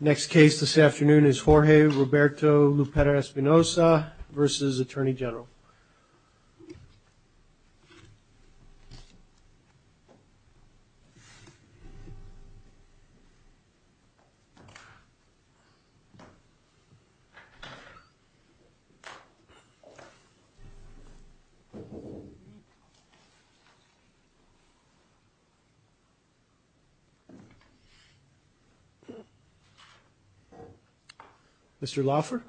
Next case this afternoon is Jorge Roberto Lupera-Espinoza versus Attorney General. Mr. Laufer.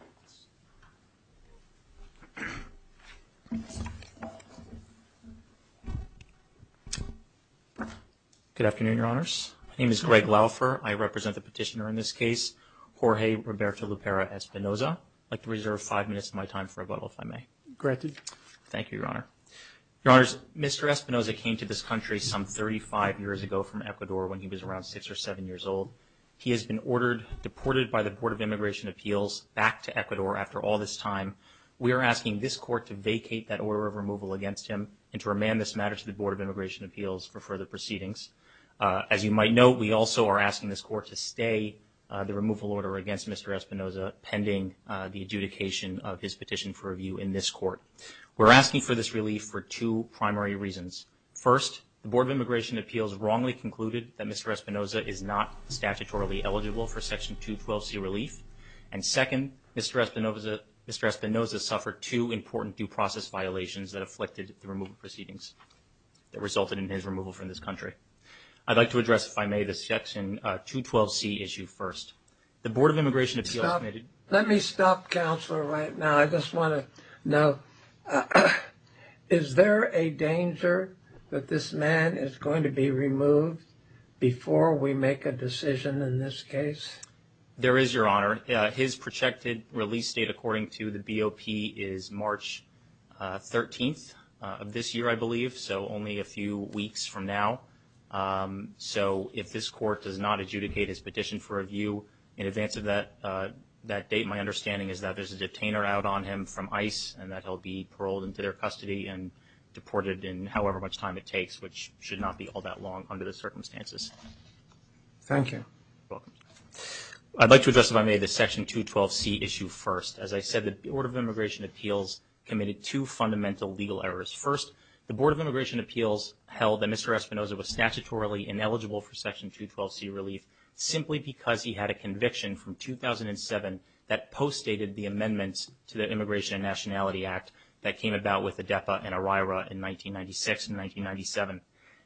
Good afternoon, Your Honors. My name is Greg Laufer. I represent the petitioner in this case, Jorge Roberto Lupera-Espinoza. I'd like to reserve five minutes of my time for rebuttal, if I may. Granted. Thank you, Your Honor. Your Honors, Mr. Espinoza came to this country some 35 years ago from Ecuador when he was around six or seven years old. He has been ordered, deported by the Board of Immigration Appeals back to Ecuador after all this time. We are asking this Court to vacate that order of removal against him and to remand this matter to the Board of Immigration Appeals for further proceedings. As you might note, we also are asking this Court to stay the removal order against Mr. Espinoza pending the adjudication of his petition for review in this court. We're asking for this relief for two primary reasons. First, the Board of Immigration Appeals wrongly concluded that Mr. Espinoza is not statutorily eligible for Section 212C relief. And second, Mr. Espinoza suffered two important due process violations that afflicted the removal proceedings that resulted in his removal from this country. I'd like to address, if I may, the Section 212C issue first. The Board of Immigration Appeals... Let me stop, Counselor, right now. I just want to know, is there a danger that this man is going to be removed before we make a decision in this case? There is, Your Honor. His projected release date, according to the BOP, is March 13th of this year, I believe, so only a few weeks from now. So if this Court does not adjudicate his petition for review in advance of that date, my understanding is that there's a detainer out on him from ICE and that he'll be paroled into their custody and deported in however much time it takes, which should not be all that long under the circumstances. Thank you. You're welcome. I'd like to address, if I may, the Section 212C issue first. As I said, the Board of Immigration Appeals committed two fundamental legal errors. First, the Board of Immigration Appeals held that Mr. Espinosa was statutorily ineligible for Section 212C relief simply because he had a conviction from 2007 that postdated the amendments to the Immigration and Nationality Act that came about with the DEPA and ERIRA in 1996 and 1997.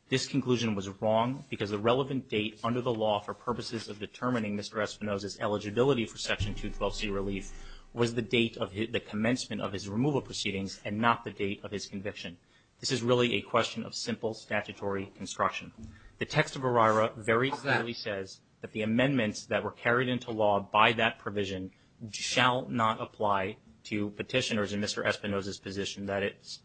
This conclusion was wrong because the relevant date under the law for purposes of determining Mr. Espinosa's eligibility for Section 212C relief was the date of the commencement of his removal proceedings and not the date of his conviction. This is really a question of simple statutory construction. The text of ERIRA very clearly says that the amendments that were carried into law by that provision shall not apply to petitioners in Mr. Espinosa's position, that is,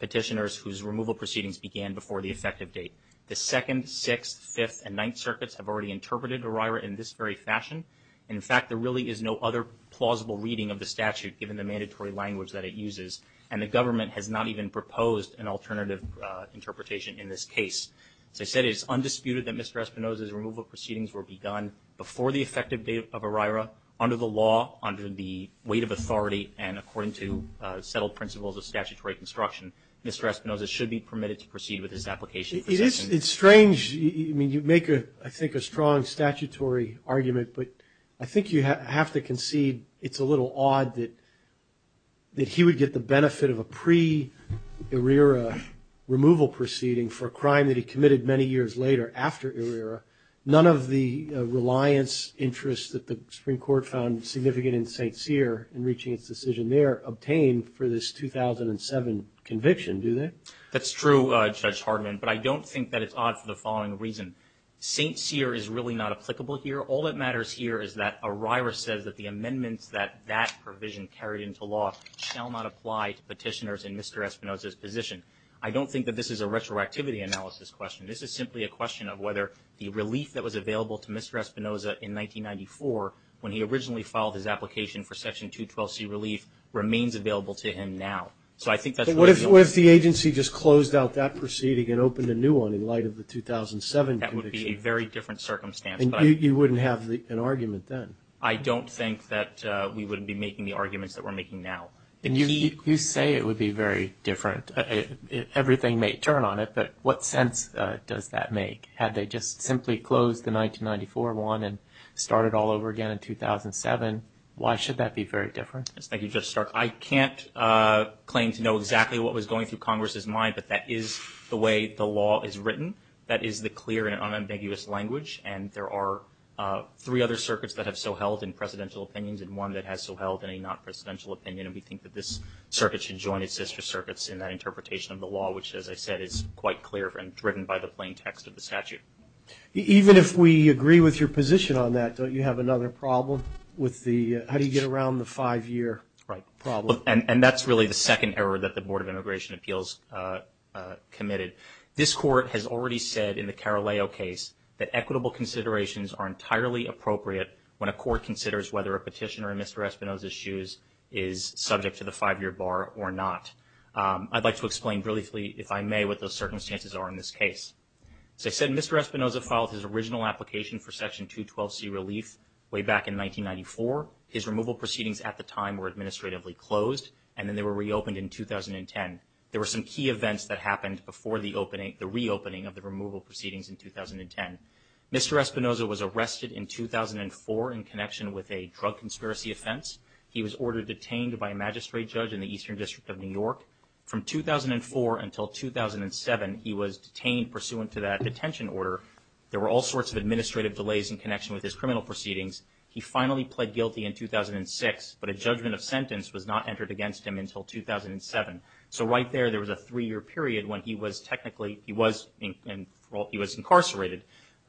petitioners whose removal proceedings began before the effective date. The Second, Sixth, Fifth, and Ninth Circuits have already interpreted ERIRA in this very fashion. In fact, there really is no other plausible reading of the statute given the mandatory language that it uses, and the government has not even proposed an alternative interpretation in this case. As I said, it is undisputed that Mr. Espinosa's removal proceedings were begun before the effective date of ERIRA, under the law, under the weight of authority, and according to settled principles of statutory construction, Mr. Espinosa should be permitted to proceed with his application. It's strange. I mean, you make, I think, a strong statutory argument, but I think you have to concede it's a little odd that he would get the benefit of a pre-ERIRA removal proceeding for a crime that he committed many years later after ERIRA. None of the reliance interests that the Supreme Court found significant in St. Cyr in reaching its decision there obtained for this 2007 conviction, do they? That's true, Judge Hardiman, but I don't think that it's odd for the following reason. St. Cyr is really not applicable here. All that matters here is that ERIRA says that the amendments that that provision carried into law shall not apply to petitioners in Mr. Espinosa's position. I don't think that this is a retroactivity analysis question. This is simply a question of whether the relief that was available to Mr. Espinosa in 1994, when he originally filed his application for Section 212C relief, remains available to him now. What if the agency just closed out that proceeding and opened a new one in light of the 2007 conviction? That would be a very different circumstance. You wouldn't have an argument then? I don't think that we would be making the arguments that we're making now. You say it would be very different. Everything may turn on it, but what sense does that make? Had they just simply closed the 1994 one and started all over again in 2007, why should that be very different? Thank you, Judge Stark. I can't claim to know exactly what was going through Congress's mind, but that is the way the law is written. That is the clear and unambiguous language, and there are three other circuits that have so held in presidential opinions and one that has so held in a non-presidential opinion, and we think that this circuit should join its sister circuits in that interpretation of the law, which, as I said, is quite clear and driven by the plain text of the statute. Even if we agree with your position on that, don't you have another problem with the how do you get around the five-year problem? And that's really the second error that the Board of Immigration Appeals committed. This Court has already said in the Caraleo case that equitable considerations are entirely appropriate when a court considers whether a petitioner in Mr. Espinosa's shoes is subject to the five-year bar or not. I'd like to explain briefly, if I may, what those circumstances are in this case. As I said, Mr. Espinosa filed his original application for Section 212C relief way back in 1994. His removal proceedings at the time were administratively closed, and then they were reopened in 2010. There were some key events that happened before the reopening of the removal proceedings in 2010. Mr. Espinosa was arrested in 2004 in connection with a drug conspiracy offense. He was ordered detained by a magistrate judge in the Eastern District of New York. From 2004 until 2007, he was detained pursuant to that detention order. There were all sorts of administrative delays in connection with his criminal proceedings. He finally pled guilty in 2006, but a judgment of sentence was not entered against him until 2007. So right there, there was a three-year period when he was technically, he was incarcerated.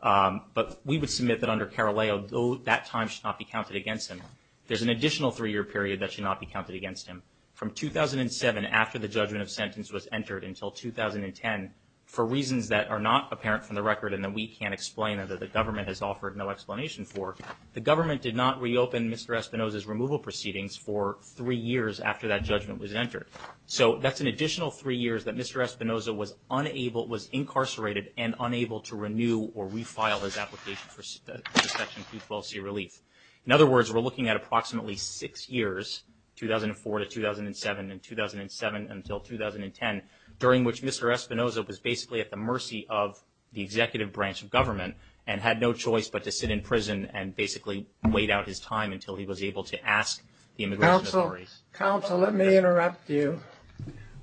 But we would submit that under Caraleo, that time should not be counted against him. There's an additional three-year period that should not be counted against him. From 2007, after the judgment of sentence was entered, until 2010, for reasons that are not apparent from the record and that we can't explain or that the government has offered no explanation for, the government did not reopen Mr. Espinosa's removal proceedings for three years after that judgment was entered. So that's an additional three years that Mr. Espinosa was unable, was incarcerated, and unable to renew or refile his application for Section 212C relief. In other words, we're looking at approximately six years, 2004 to 2007 and 2007 until 2010, during which Mr. Espinosa was basically at the mercy of the executive branch of government and had no choice but to sit in prison and basically wait out his time until he was able to ask the immigration authorities. Counsel, let me interrupt you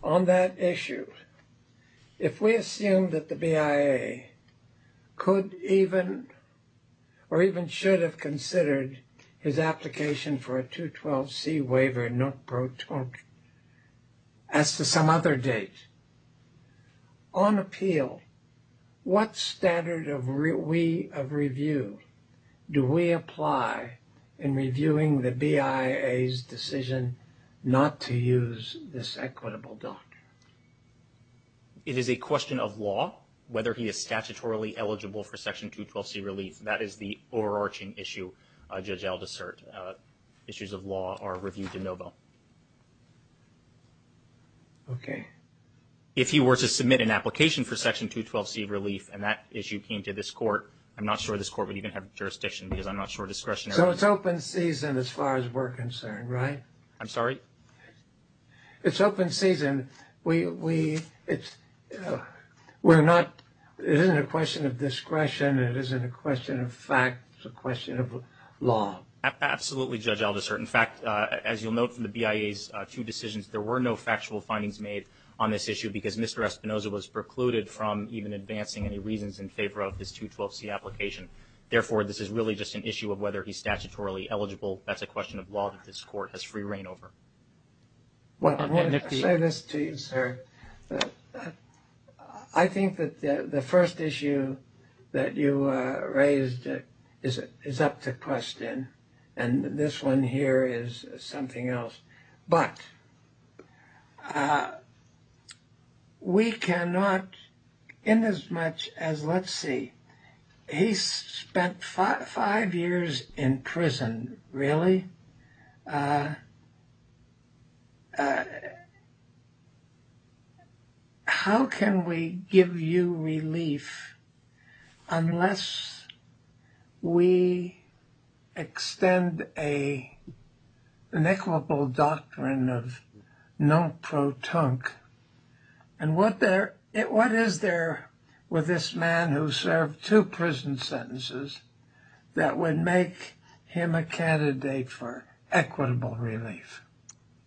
on that issue. If we assume that the BIA could even or even should have considered his application for a 212C waiver not pro torte, as to some other date, on appeal, what standard of review do we apply in reviewing the BIA's decision not to use this equitable doctor? It is a question of law, whether he is statutorily eligible for Section 212C relief. That is the overarching issue Judge Aldous Sirte, issues of law are reviewed de novo. Okay. If he were to submit an application for Section 212C relief and that issue came to this court, I'm not sure this court would even have jurisdiction because I'm not sure discretionary. So it's open season as far as we're concerned, right? I'm sorry? It's open season. It isn't a question of discretion. It isn't a question of fact. It's a question of law. Absolutely, Judge Aldous Sirte. In fact, as you'll note from the BIA's two decisions, there were no factual findings made on this issue because Mr. Espinoza was precluded from even advancing any reasons in favor of this 212C application. Therefore, this is really just an issue of whether he's statutorily eligible. That's a question of law that this court has free reign over. I want to say this to you, sir. I think that the first issue that you raised is up to question, and this one here is something else. But we cannot, in as much as, let's see, he spent five years in prison. Really? How can we give you relief unless we extend an equitable doctrine of non-protonque? And what is there with this man who served two prison sentences that would make him a candidate for equitable relief?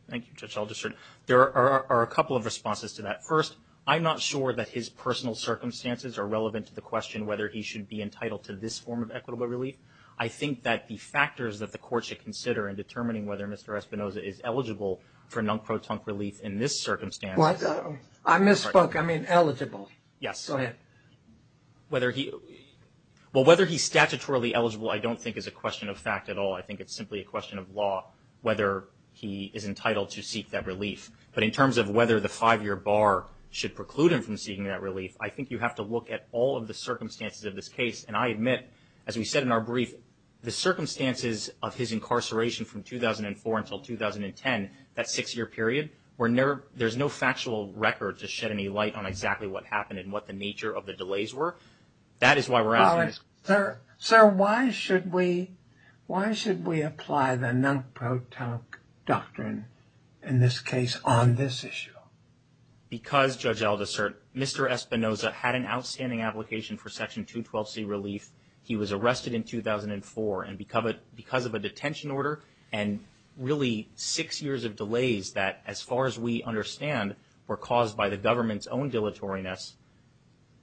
Thank you, Judge Aldous Sirte. There are a couple of responses to that. First, I'm not sure that his personal circumstances are relevant to the question whether he should be entitled to this form of equitable relief. I think that the factors that the court should consider in determining whether Mr. Espinoza is eligible for non-protonque relief in this circumstance. What? I misspoke. I mean eligible. Yes. Go ahead. Well, whether he's statutorily eligible I don't think is a question of fact at all. I think it's simply a question of law whether he is entitled to seek that relief. But in terms of whether the five-year bar should preclude him from seeking that relief, I think you have to look at all of the circumstances of this case. And I admit, as we said in our brief, the circumstances of his incarceration from 2004 until 2010, that six-year period, there's no factual record to shed any light on exactly what happened and what the nature of the delays were. That is why we're asking this question. Sir, why should we apply the non-protonque doctrine in this case on this issue? Well, because, Judge Aldisert, Mr. Espinoza had an outstanding application for Section 212C relief. He was arrested in 2004. And because of a detention order and really six years of delays that, as far as we understand, were caused by the government's own dilatoryness,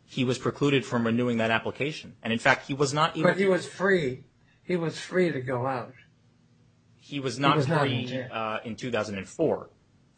he was precluded from renewing that application. And, in fact, he was not even – But he was free. He was free to go out. He was not free in 2004.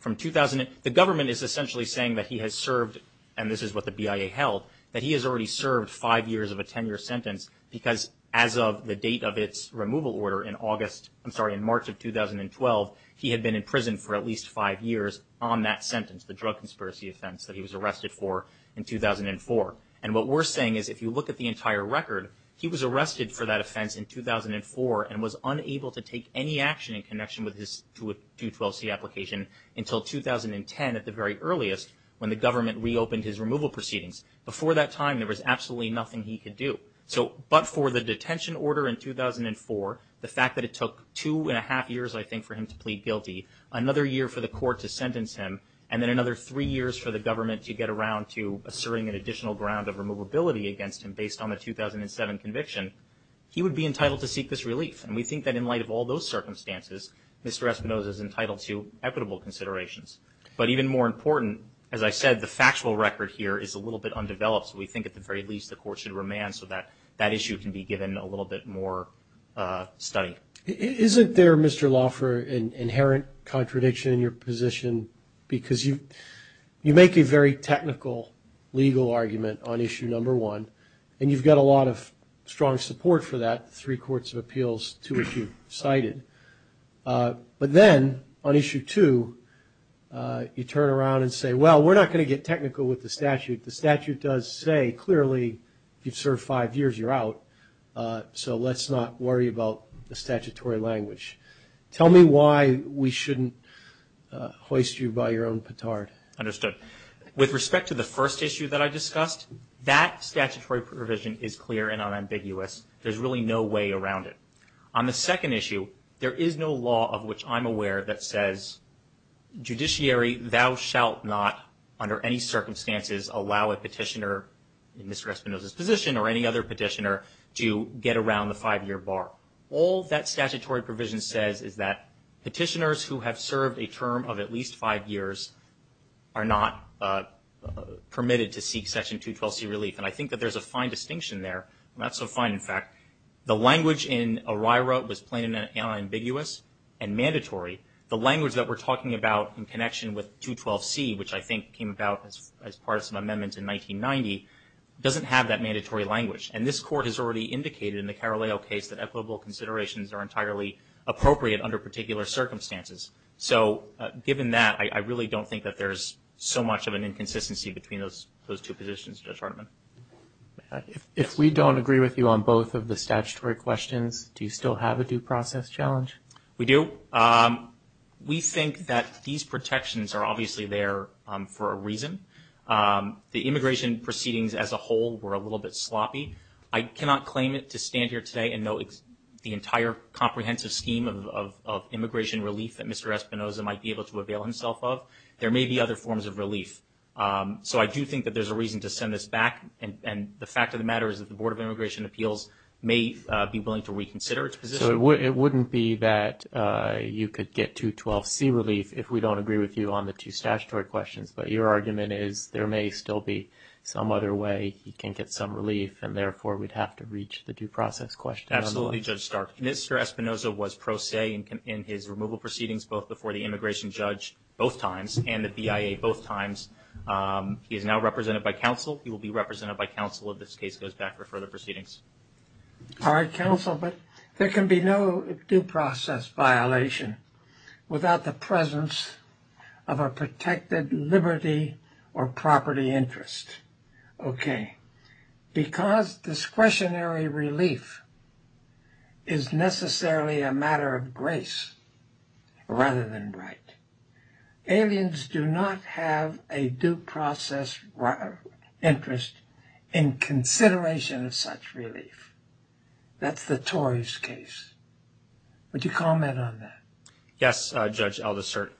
The government is essentially saying that he has served – and this is what the BIA held – that he has already served five years of a 10-year sentence because, as of the date of its removal order in August – I'm sorry, in March of 2012, he had been in prison for at least five years on that sentence, the drug conspiracy offense that he was arrested for in 2004. And what we're saying is, if you look at the entire record, he was arrested for that offense in 2004 and was unable to take any action in connection with his 212C application until 2010, at the very earliest, when the government reopened his removal proceedings. Before that time, there was absolutely nothing he could do. But for the detention order in 2004, the fact that it took two and a half years, I think, for him to plead guilty, another year for the court to sentence him, and then another three years for the government to get around to asserting an additional ground of removability against him based on the 2007 conviction, he would be entitled to seek this relief. And we think that in light of all those circumstances, Mr. Espinosa is entitled to equitable considerations. But even more important, as I said, the factual record here is a little bit undeveloped, so we think at the very least the court should remand so that that issue can be given a little bit more study. Isn't there, Mr. Lauffer, an inherent contradiction in your position? Because you make a very technical legal argument on issue number one, and you've got a lot of strong support for that, three courts of appeals to which you cited. But then on issue two, you turn around and say, well, we're not going to get technical with the statute. The statute does say clearly if you've served five years, you're out, so let's not worry about the statutory language. Tell me why we shouldn't hoist you by your own petard. Understood. With respect to the first issue that I discussed, that statutory provision is clear and unambiguous. There's really no way around it. On the second issue, there is no law of which I'm aware that says judiciary, thou shalt not under any circumstances allow a petitioner in Mr. Espinosa's position or any other petitioner to get around the five-year bar. All that statutory provision says is that petitioners who have served a term of at least five years are not permitted to seek Section 212C relief. And I think that there's a fine distinction there. Not so fine, in fact. The language in ORIRA was plain and unambiguous and mandatory. The language that we're talking about in connection with 212C, which I think came about as part of some amendments in 1990, doesn't have that mandatory language. And this Court has already indicated in the Caraleo case that equitable considerations are entirely appropriate under particular circumstances. So given that, I really don't think that there's so much of an inconsistency between those two positions, Judge Hartman. If we don't agree with you on both of the statutory questions, do you still have a due process challenge? We do. The immigration proceedings as a whole were a little bit sloppy. I cannot claim it to stand here today and know the entire comprehensive scheme of immigration relief that Mr. Espinosa might be able to avail himself of. There may be other forms of relief. So I do think that there's a reason to send this back, and the fact of the matter is that the Board of Immigration Appeals may be willing to reconsider its position. So it wouldn't be that you could get 212C relief if we don't agree with you on the two statutory questions, but your argument is there may still be some other way you can get some relief, and therefore we'd have to reach the due process question. Absolutely, Judge Stark. Mr. Espinosa was pro se in his removal proceedings both before the immigration judge both times and the BIA both times. He is now represented by counsel. He will be represented by counsel if this case goes back for further proceedings. All right, counsel. There can be no due process violation without the presence of a protected liberty or property interest. Okay. Because discretionary relief is necessarily a matter of grace rather than right, aliens do not have a due process interest in consideration of such relief. That's the Tories' case. Would you comment on that? Yes, Judge Aldersert.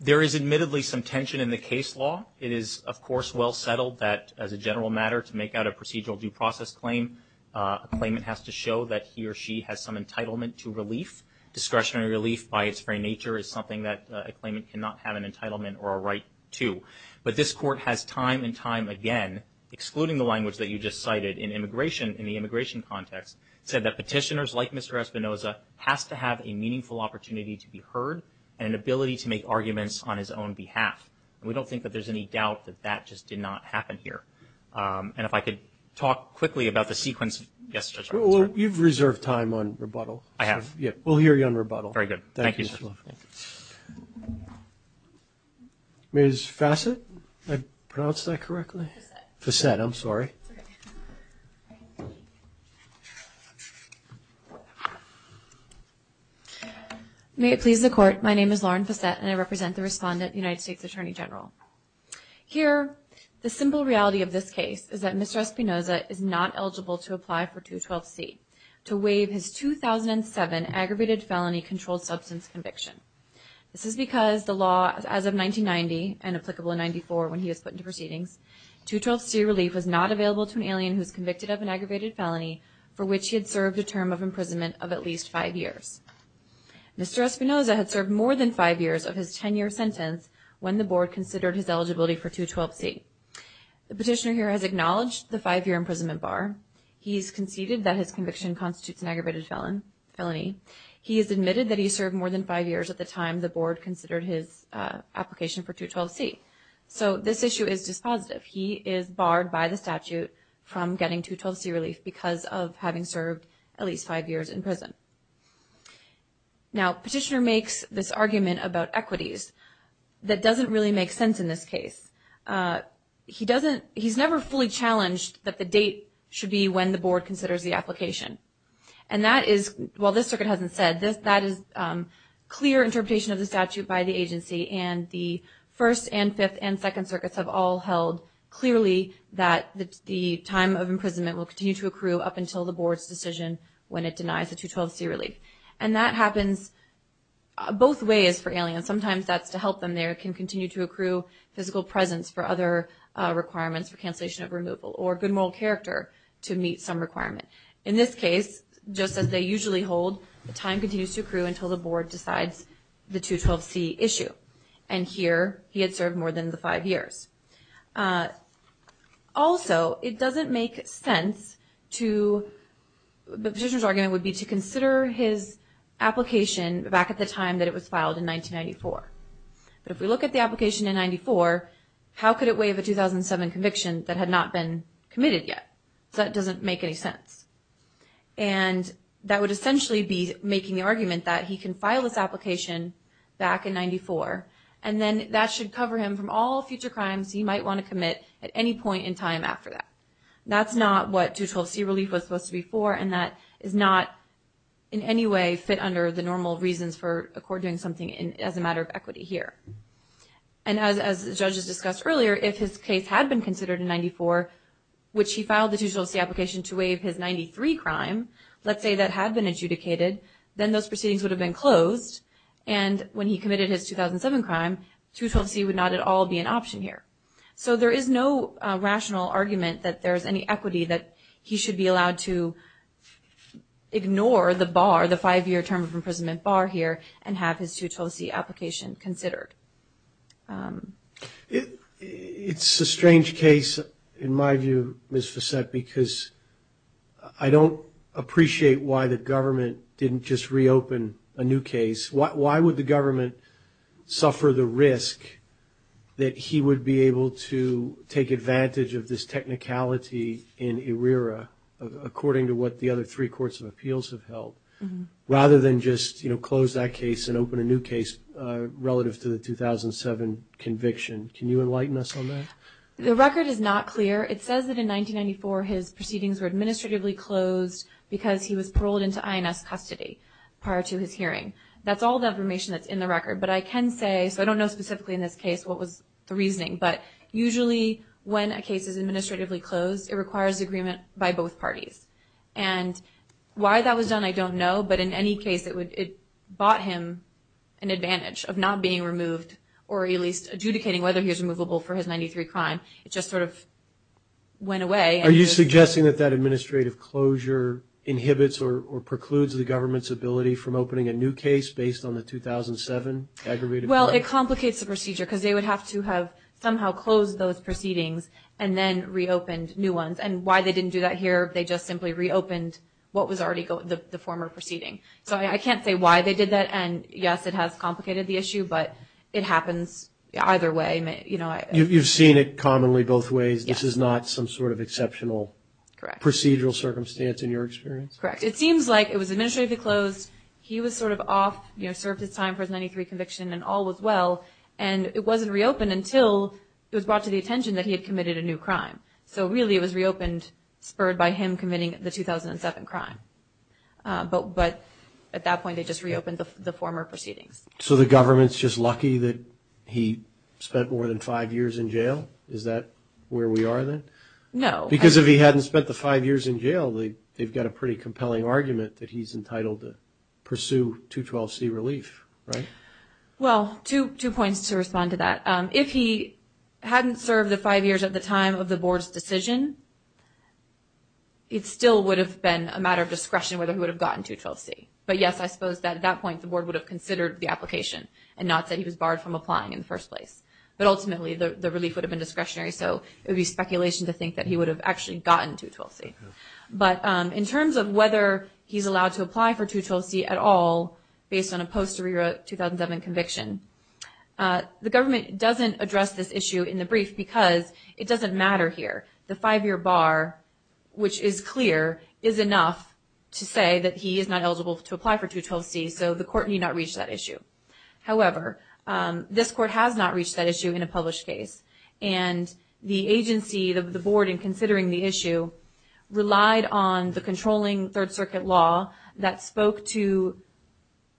There is admittedly some tension in the case law. It is, of course, well settled that as a general matter to make out a procedural due process claim, a claimant has to show that he or she has some entitlement to relief. Discretionary relief by its very nature is something that a claimant cannot have an entitlement or a right to. But this court has time and time again, excluding the language that you just cited in the immigration context, said that petitioners like Mr. Espinoza has to have a meaningful opportunity to be heard and an ability to make arguments on his own behalf. And we don't think that there's any doubt that that just did not happen here. And if I could talk quickly about the sequence. Yes, Judge Aldersert. You've reserved time on rebuttal. I have. We'll hear you on rebuttal. Very good. Thank you. Thank you. Ms. Fassett, did I pronounce that correctly? Fassett. Fassett, I'm sorry. May it please the Court, my name is Lauren Fassett, and I represent the respondent, United States Attorney General. Here, the simple reality of this case is that Mr. Espinoza is not eligible to apply for 212C to waive his 2007 aggravated felony controlled substance conviction. This is because the law, as of 1990, and applicable in 94 when he was put into proceedings, 212C relief was not available to an alien who was convicted of an aggravated felony for which he had served a term of imprisonment of at least five years. Mr. Espinoza had served more than five years of his 10-year sentence when the Board considered his eligibility for 212C. The petitioner here has acknowledged the five-year imprisonment bar. He has conceded that his conviction constitutes an aggravated felony. He has admitted that he served more than five years at the time the Board considered his application for 212C. So this issue is dispositive. He is barred by the statute from getting 212C relief because of having served at least five years in prison. Now, petitioner makes this argument about equities that doesn't really make sense in this case. He's never fully challenged that the date should be when the Board considers the application. And that is, while this circuit hasn't said, that is clear interpretation of the statute by the agency, and the First and Fifth and Second Circuits have all held clearly that the time of imprisonment will continue to accrue up until the Board's decision when it denies the 212C relief. And that happens both ways for aliens. Sometimes that's to help them. They can continue to accrue physical presence for other requirements for cancellation of removal or good moral character to meet some requirement. In this case, just as they usually hold, the time continues to accrue until the Board decides the 212C issue. And here, he had served more than the five years. Also, it doesn't make sense to, the petitioner's argument would be to consider his application back at the time that it was filed in 1994. But if we look at the application in 94, how could it waive a 2007 conviction that had not been committed yet? That doesn't make any sense. And that would essentially be making the argument that he can file this application back in 94, and then that should cover him from all future crimes he might want to commit at any point in time after that. That's not what 212C relief was supposed to be for, and that does not in any way fit under the normal reasons for a court doing something as a matter of equity here. And as the judges discussed earlier, if his case had been considered in 94, which he filed the 212C application to waive his 93 crime, let's say that had been adjudicated, then those proceedings would have been closed. And when he committed his 2007 crime, 212C would not at all be an option here. So there is no rational argument that there is any equity, that he should be allowed to ignore the bar, the five-year term of imprisonment bar here, and have his 212C application considered. It's a strange case in my view, Ms. Fossett, because I don't appreciate why the government didn't just reopen a new case. Why would the government suffer the risk that he would be able to take advantage of this technicality in ERIRA, according to what the other three courts of appeals have held, rather than just close that case and open a new case relative to the 2007 conviction? Can you enlighten us on that? The record is not clear. It says that in 1994 his proceedings were administratively closed because he was paroled into INS custody prior to his hearing. That's all the information that's in the record. But I can say, so I don't know specifically in this case what was the reasoning, but usually when a case is administratively closed, it requires agreement by both parties. And why that was done I don't know, but in any case it bought him an advantage of not being removed or at least adjudicating whether he was removable for his 93 crime. It just sort of went away. Are you suggesting that that administrative closure inhibits or precludes the government's ability from opening a new case based on the 2007 aggravated crime? Well, it complicates the procedure because they would have to have somehow closed those proceedings and then reopened new ones. And why they didn't do that here, they just simply reopened what was already the former proceeding. So I can't say why they did that. And, yes, it has complicated the issue, but it happens either way. You've seen it commonly both ways. This is not some sort of exceptional procedural circumstance in your experience? Correct. It seems like it was administratively closed, he was sort of off, served his time for his 93 conviction and all was well, and it wasn't reopened until it was brought to the attention that he had committed a new crime. So really it was reopened spurred by him committing the 2007 crime. But at that point they just reopened the former proceedings. So the government's just lucky that he spent more than five years in jail? Is that where we are then? No. Because if he hadn't spent the five years in jail, they've got a pretty compelling argument that he's entitled to pursue 212C relief, right? Well, two points to respond to that. If he hadn't served the five years at the time of the board's decision, it still would have been a matter of discretion whether he would have gotten 212C. But, yes, I suppose at that point the board would have considered the application and not said he was barred from applying in the first place. But ultimately the relief would have been discretionary, so it would be speculation to think that he would have actually gotten 212C. But in terms of whether he's allowed to apply for 212C at all based on a post-arrear 2007 conviction, the government doesn't address this issue in the brief because it doesn't matter here. The five-year bar, which is clear, is enough to say that he is not eligible to apply for 212C, so the court need not reach that issue. However, this court has not reached that issue in a published case, and the agency of the board in considering the issue relied on the controlling Third Circuit law that spoke to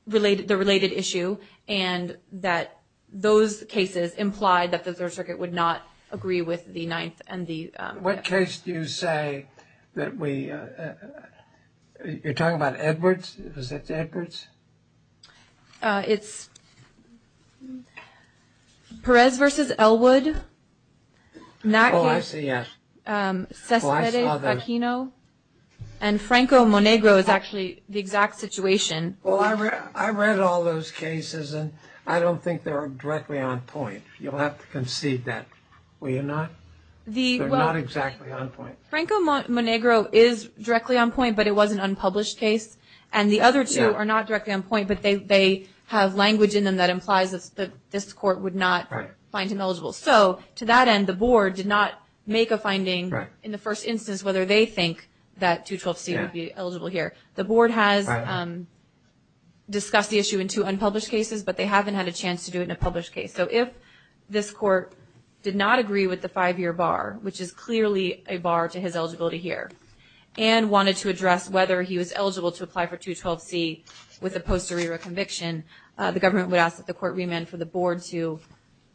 the related issue and that those cases implied that the Third Circuit would not agree with the ninth. What case do you say that we – you're talking about Edwards? Is that Edwards? It's Perez v. Elwood. Oh, I see, yes. Oh, I saw those. And Franco-Monegro is actually the exact situation. Well, I read all those cases, and I don't think they're directly on point. You'll have to concede that, will you not? They're not exactly on point. Franco-Monegro is directly on point, but it was an unpublished case, and the other two are not directly on point, but they have language in them that implies that this court would not find him eligible. So to that end, the board did not make a finding in the first instance whether they think that 212C would be eligible here. The board has discussed the issue in two unpublished cases, but they haven't had a chance to do it in a published case. So if this court did not agree with the five-year bar, which is clearly a bar to his eligibility here, and wanted to address whether he was eligible to apply for 212C with a post-arrear conviction, the government would ask that the court remand for the board to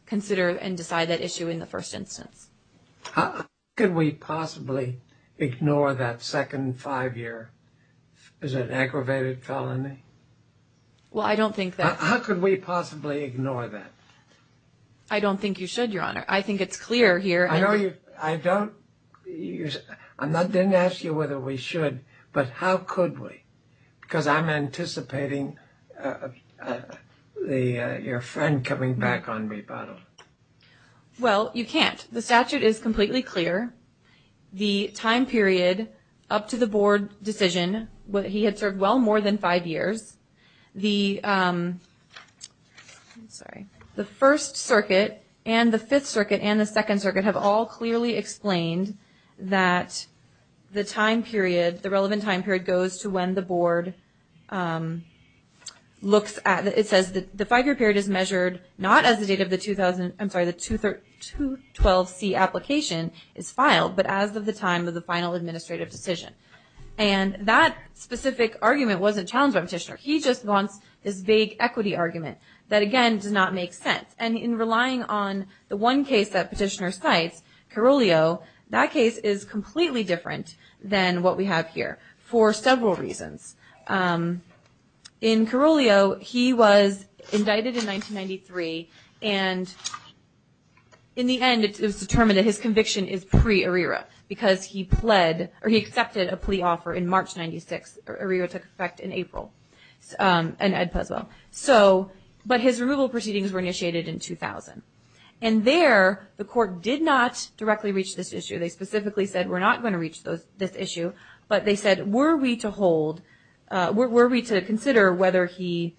consider and decide that issue in the first instance. How could we possibly ignore that second five-year? Is it an aggravated felony? Well, I don't think that's – How could we possibly ignore that? I don't think you should, Your Honor. I think it's clear here – I know you – I don't – I didn't ask you whether we should, but how could we? Because I'm anticipating your friend coming back on rebuttal. Well, you can't. The statute is completely clear. The time period up to the board decision, he had served well more than five years. The first circuit and the fifth circuit and the second circuit have all clearly explained that the time period, the relevant time period, goes to when the board looks at – it says the five-year period is measured not as the date of the 2000 – I'm sorry, the 212C application is filed, but as of the time of the final administrative decision. And that specific argument wasn't challenged by Petitioner. He just wants this vague equity argument that, again, does not make sense. And in relying on the one case that Petitioner cites, Carulio, that case is completely different than what we have here for several reasons. In Carulio, he was indicted in 1993, and in the end, it was determined that his conviction is pre-Arrera because he pled – or he accepted a plea offer in March 1996. Arrera took effect in April, and Ed Puzo. So – but his removal proceedings were initiated in 2000. And there, the court did not directly reach this issue. They specifically said, we're not going to reach this issue. But they said, were we to hold – were we to consider whether he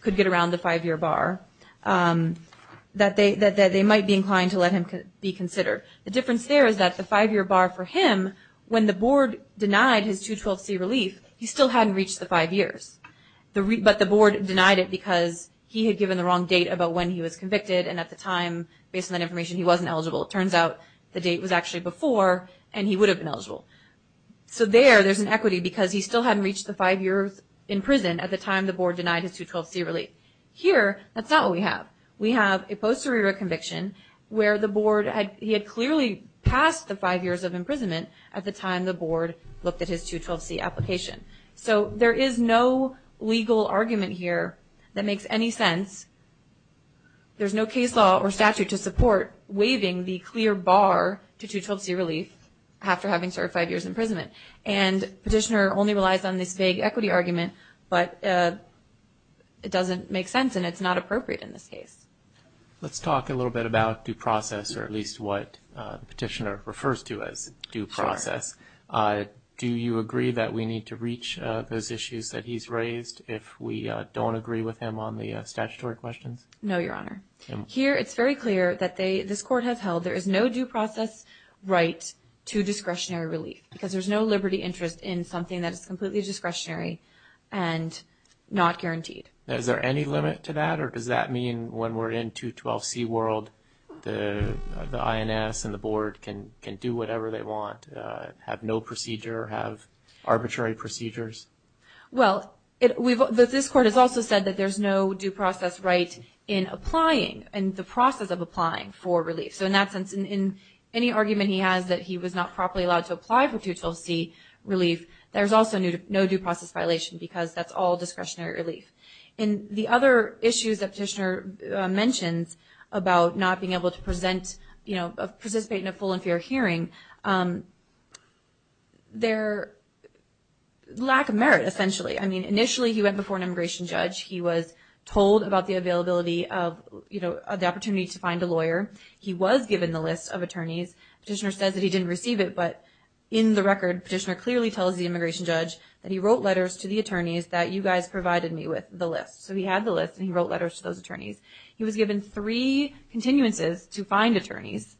could get around the five-year bar, that they might be inclined to let him be considered. The difference there is that the five-year bar for him, when the board denied his 212C relief, he still hadn't reached the five years. But the board denied it because he had given the wrong date about when he was convicted, and at the time, based on that information, he wasn't eligible. It turns out the date was actually before, and he would have been eligible. So there, there's an equity because he still hadn't reached the five years in prison at the time the board denied his 212C relief. Here, that's not what we have. We have a post-Arrera conviction where the board had – he had clearly passed the five years of imprisonment at the time the board looked at his 212C application. So there is no legal argument here that makes any sense. There's no case law or statute to support waiving the clear bar to 212C relief after having served five years in imprisonment. And Petitioner only relies on this vague equity argument, but it doesn't make sense, and it's not appropriate in this case. Let's talk a little bit about due process, or at least what Petitioner refers to as due process. Do you agree that we need to reach those issues that he's raised if we don't agree with him on the statutory questions? No, Your Honor. Here, it's very clear that they – this court has held there is no due process right to discretionary relief because there's no liberty interest in something that is completely discretionary and not guaranteed. Is there any limit to that, or does that mean when we're in 212C world, the INS and the board can do whatever they want, have no procedure, have arbitrary procedures? Well, this court has also said that there's no due process right in applying, in the process of applying for relief. So in that sense, in any argument he has that he was not properly allowed to apply for 212C relief, there's also no due process violation because that's all discretionary relief. And the other issues that Petitioner mentions about not being able to present, you know, participate in a full and fair hearing, they're lack of merit, essentially. I mean, initially he went before an immigration judge. He was told about the availability of, you know, the opportunity to find a lawyer. He was given the list of attorneys. Petitioner says that he didn't receive it, but in the record, Petitioner clearly tells the immigration judge that he wrote letters to the attorneys that you guys provided me with the list. So he had the list, and he wrote letters to those attorneys. He was given three continuances to find attorneys.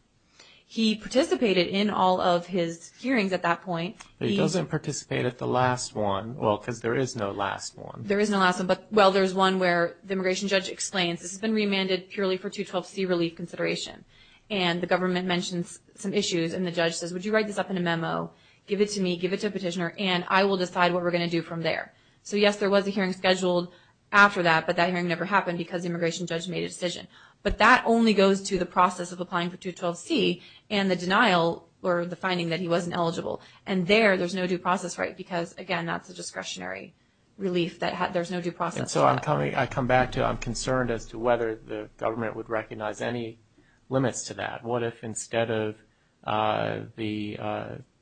He participated in all of his hearings at that point. He doesn't participate at the last one, well, because there is no last one. There is no last one, but, well, there's one where the immigration judge explains, this has been remanded purely for 212C relief consideration. And the government mentions some issues, and the judge says, would you write this up in a memo, give it to me, give it to Petitioner, and I will decide what we're going to do from there. So, yes, there was a hearing scheduled after that, but that hearing never happened because the immigration judge made a decision. But that only goes to the process of applying for 212C and the denial or the finding that he wasn't eligible. And there, there's no due process, right, because, again, that's a discretionary relief. There's no due process for that. So I'm coming, I come back to, I'm concerned as to whether the government would recognize any limits to that. What if instead of the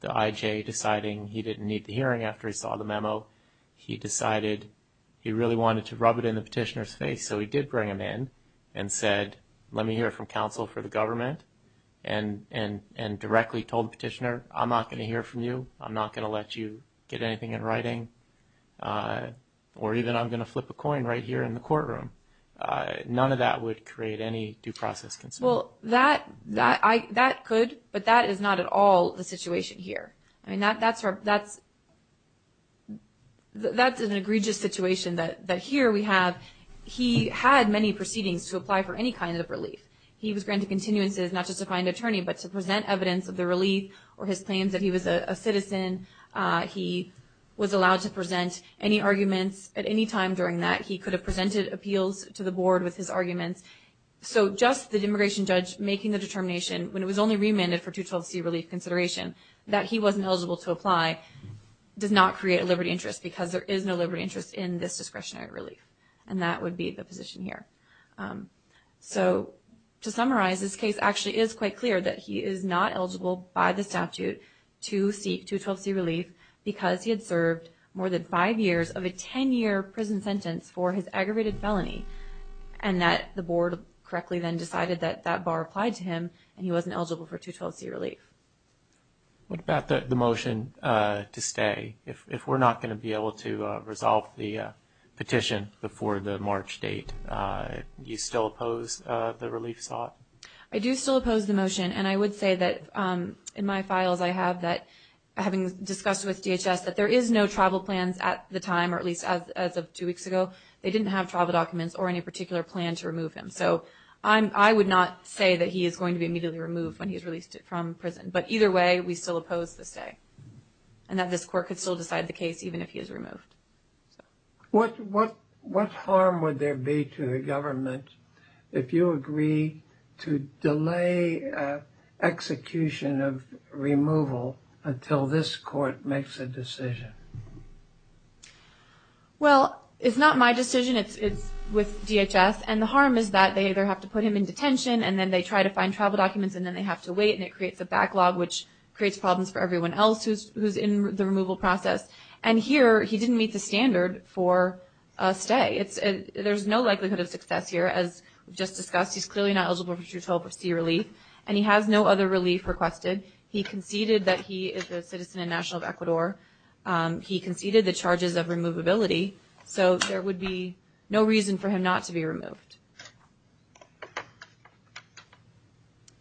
IJ deciding he didn't need the hearing after he saw the memo, he decided he really wanted to rub it in the Petitioner's face. So he did bring him in and said, let me hear from counsel for the government, and directly told the Petitioner, I'm not going to hear from you, I'm not going to let you get anything in writing, or even I'm going to flip a coin right here in the courtroom. None of that would create any due process concern. Well, that could, but that is not at all the situation here. I mean, that's an egregious situation that here we have. He had many proceedings to apply for any kind of relief. He was granted continuances, not just to find an attorney, but to present evidence of the relief or his claims that he was a citizen. He was allowed to present any arguments at any time during that. He could have presented appeals to the board with his arguments. So just the immigration judge making the determination, when it was only remanded for 212C relief consideration, that he wasn't eligible to apply, does not create a liberty interest because there is no liberty interest in this discretionary relief, and that would be the position here. So to summarize, this case actually is quite clear that he is not eligible by the statute to seek 212C relief because he had served more than five years of a 10-year prison sentence for his aggravated felony, and that the board correctly then decided that that bar applied to him, and he wasn't eligible for 212C relief. What about the motion to stay, if we're not going to be able to resolve the petition before the March date? Do you still oppose the relief sought? I do still oppose the motion, and I would say that in my files I have that having discussed with DHS that there is no travel plans at the time, or at least as of two weeks ago, they didn't have travel documents or any particular plan to remove him. So I would not say that he is going to be immediately removed when he is released from prison, but either way, we still oppose the stay, and that this court could still decide the case even if he is removed. What harm would there be to the government if you agree to delay execution of removal until this court makes a decision? Well, it's not my decision, it's with DHS, and the harm is that they either have to put him in detention, and then they try to find travel documents, and then they have to wait, and it creates a backlog which creates problems for everyone else who's in the removal process. And here, he didn't meet the standard for a stay. There's no likelihood of success here. As we just discussed, he's clearly not eligible to receive relief, and he has no other relief requested. He conceded that he is a citizen and national of Ecuador. He conceded the charges of removability, so there would be no reason for him not to be removed.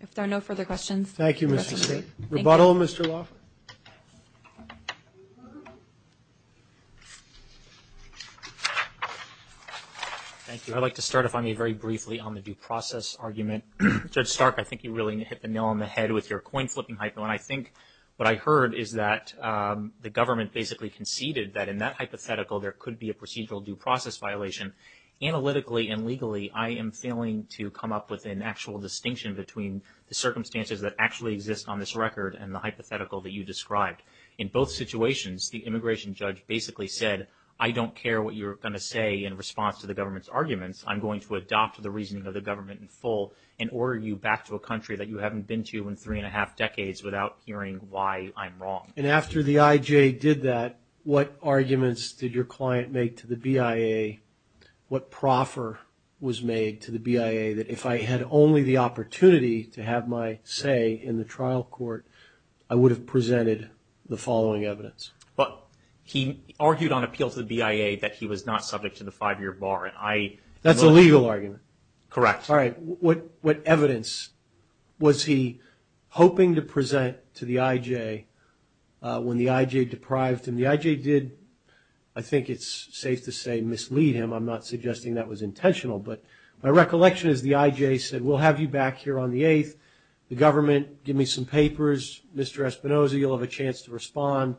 If there are no further questions. Thank you, Mr. State. Rebuttal, Mr. Laffer. Thank you. I'd like to start, if I may, very briefly on the due process argument. Judge Stark, I think you really hit the nail on the head with your coin-flipping hypo, and I think what I heard is that the government basically conceded that in that hypothetical, there could be a procedural due process violation. Analytically and legally, I am failing to come up with an actual distinction between the circumstances that actually exist on this record and the hypothetical that you described. In both situations, the immigration judge basically said, I don't care what you're going to say in response to the government's arguments. I'm going to adopt the reasoning of the government in full and order you back to a country that you haven't been to in three and a half decades without hearing why I'm wrong. And after the IJ did that, what arguments did your client make to the BIA? What proffer was made to the BIA that if I had only the opportunity to have my say in the trial court, I would have presented the following evidence? He argued on appeal to the BIA that he was not subject to the five-year bar. That's a legal argument. Correct. All right. What evidence was he hoping to present to the IJ when the IJ deprived him? The IJ did, I think it's safe to say, mislead him. I'm not suggesting that was intentional. But my recollection is the IJ said, we'll have you back here on the 8th. The government, give me some papers. Mr. Espinoza, you'll have a chance to respond.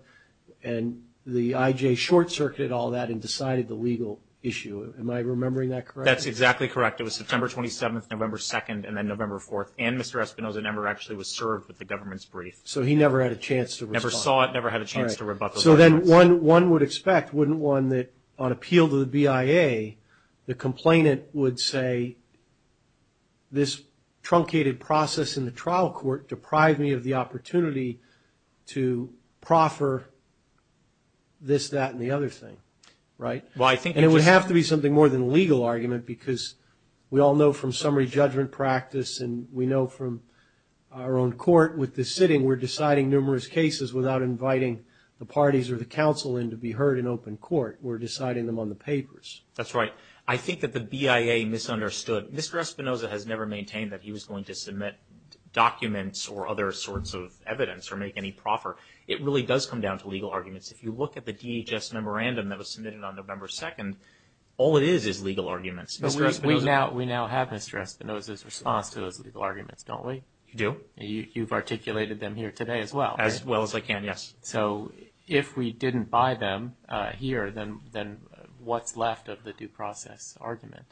And the IJ short-circuited all that and decided the legal issue. Am I remembering that correctly? That's exactly correct. It was September 27th, November 2nd, and then November 4th. And Mr. Espinoza never actually was served with the government's brief. So he never had a chance to respond. Never saw it, never had a chance to rebut those arguments. So then one would expect, wouldn't one, that on appeal to the BIA, the complainant would say this truncated process in the trial court deprived me of the opportunity to proffer this, that, and the other thing, right? And it would have to be something more than a legal argument because we all know from summary judgment practice and we know from our own court with this sitting, we're deciding numerous cases without inviting the parties or the counsel in to be heard in open court. We're deciding them on the papers. That's right. I think that the BIA misunderstood. Mr. Espinoza has never maintained that he was going to submit documents or other sorts of evidence or make any proffer. It really does come down to legal arguments. If you look at the DHS memorandum that was submitted on November 2nd, all it is is legal arguments. We now have Mr. Espinoza's response to those legal arguments, don't we? We do. You've articulated them here today as well. As well as I can, yes. So if we didn't buy them here, then what's left of the due process argument?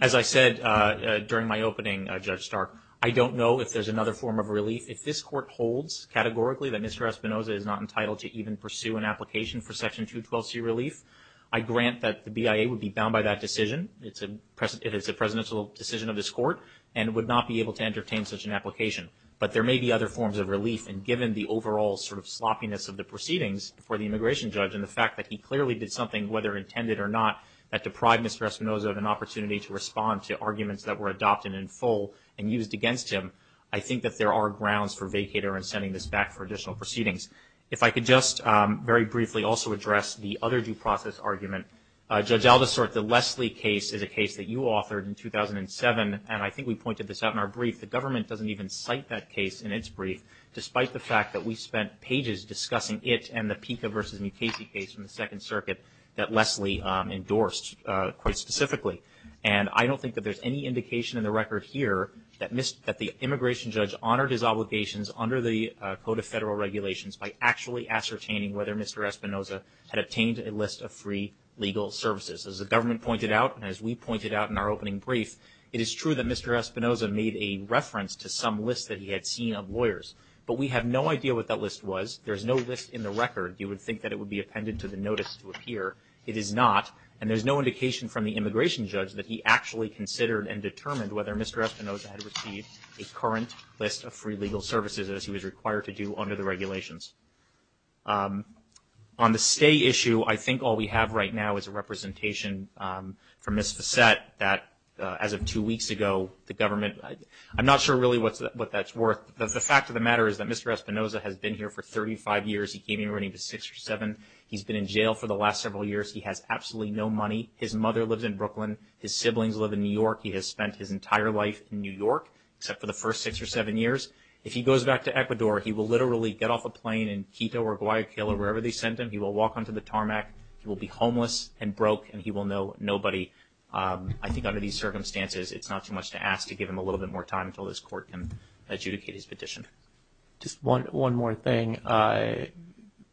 As I said during my opening, Judge Stark, I don't know if there's another form of relief. If this court holds categorically that Mr. Espinoza is not entitled to even pursue an application for Section 212C relief, I grant that the BIA would be bound by that decision. It is a presidential decision of this court and would not be able to entertain such an application. But there may be other forms of relief. And given the overall sort of sloppiness of the proceedings for the immigration judge and the fact that he clearly did something, whether intended or not, that deprived Mr. Espinoza of an opportunity to respond to arguments that were adopted in full and used against him, I think that there are grounds for vacater and sending this back for additional proceedings. If I could just very briefly also address the other due process argument. Judge Aldersort, the Leslie case is a case that you authored in 2007, and I think we pointed this out in our brief. The government doesn't even cite that case in its brief, despite the fact that we spent pages discussing it and the Pica v. Mukasey case in the Second Circuit that Leslie endorsed quite specifically. And I don't think that there's any indication in the record here that the immigration judge honored his obligations under the Code of Federal Regulations by actually ascertaining whether Mr. Espinoza had obtained a list of free legal services. As the government pointed out and as we pointed out in our opening brief, it is true that Mr. Espinoza made a reference to some list that he had seen of lawyers. But we have no idea what that list was. There's no list in the record. You would think that it would be appended to the notice to appear. It is not. And there's no indication from the immigration judge that he actually considered and determined whether Mr. Espinoza had received a current list of free legal services, as he was required to do under the regulations. On the stay issue, I think all we have right now is a representation from Ms. Fassett that, as of two weeks ago, the government – I'm not sure really what that's worth. The fact of the matter is that Mr. Espinoza has been here for 35 years. He came here when he was six or seven. He's been in jail for the last several years. He has absolutely no money. His mother lives in Brooklyn. His siblings live in New York. He has spent his entire life in New York, except for the first six or seven years. If he goes back to Ecuador, he will literally get off a plane in Quito or Guayaquil or wherever they sent him. He will walk onto the tarmac. He will be homeless and broke, and he will know nobody. I think under these circumstances, it's not too much to ask to give him a little bit more time until this court can adjudicate his petition. Just one more thing.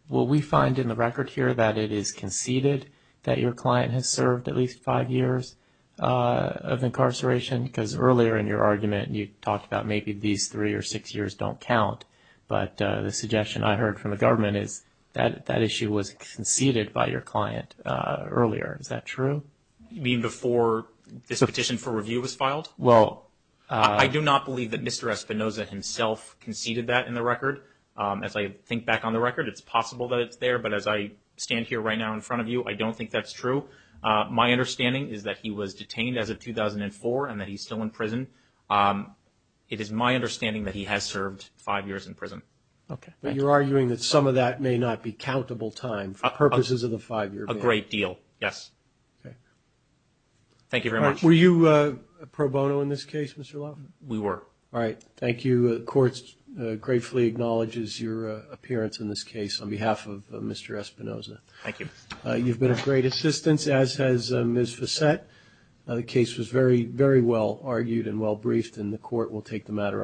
Will we find in the record here that it is conceded that your client has served at least five years of incarceration? Because earlier in your argument, you talked about maybe these three or six years don't count. But the suggestion I heard from the government is that that issue was conceded by your client earlier. Is that true? You mean before this petition for review was filed? Well, I do not believe that Mr. Espinoza himself conceded that in the record. As I think back on the record, it's possible that it's there. But as I stand here right now in front of you, I don't think that's true. My understanding is that he was detained as of 2004 and that he's still in prison. It is my understanding that he has served five years in prison. Okay. But you're arguing that some of that may not be countable time for purposes of the five-year ban. A great deal, yes. Okay. Thank you very much. Were you a pro bono in this case, Mr. Laffin? We were. All right. Thank you. The court gratefully acknowledges your appearance in this case on behalf of Mr. Espinoza. Thank you. You've been a great assistance, as has Ms. Fassett. The case was very, very well argued and well briefed, and the court will take the matter under review.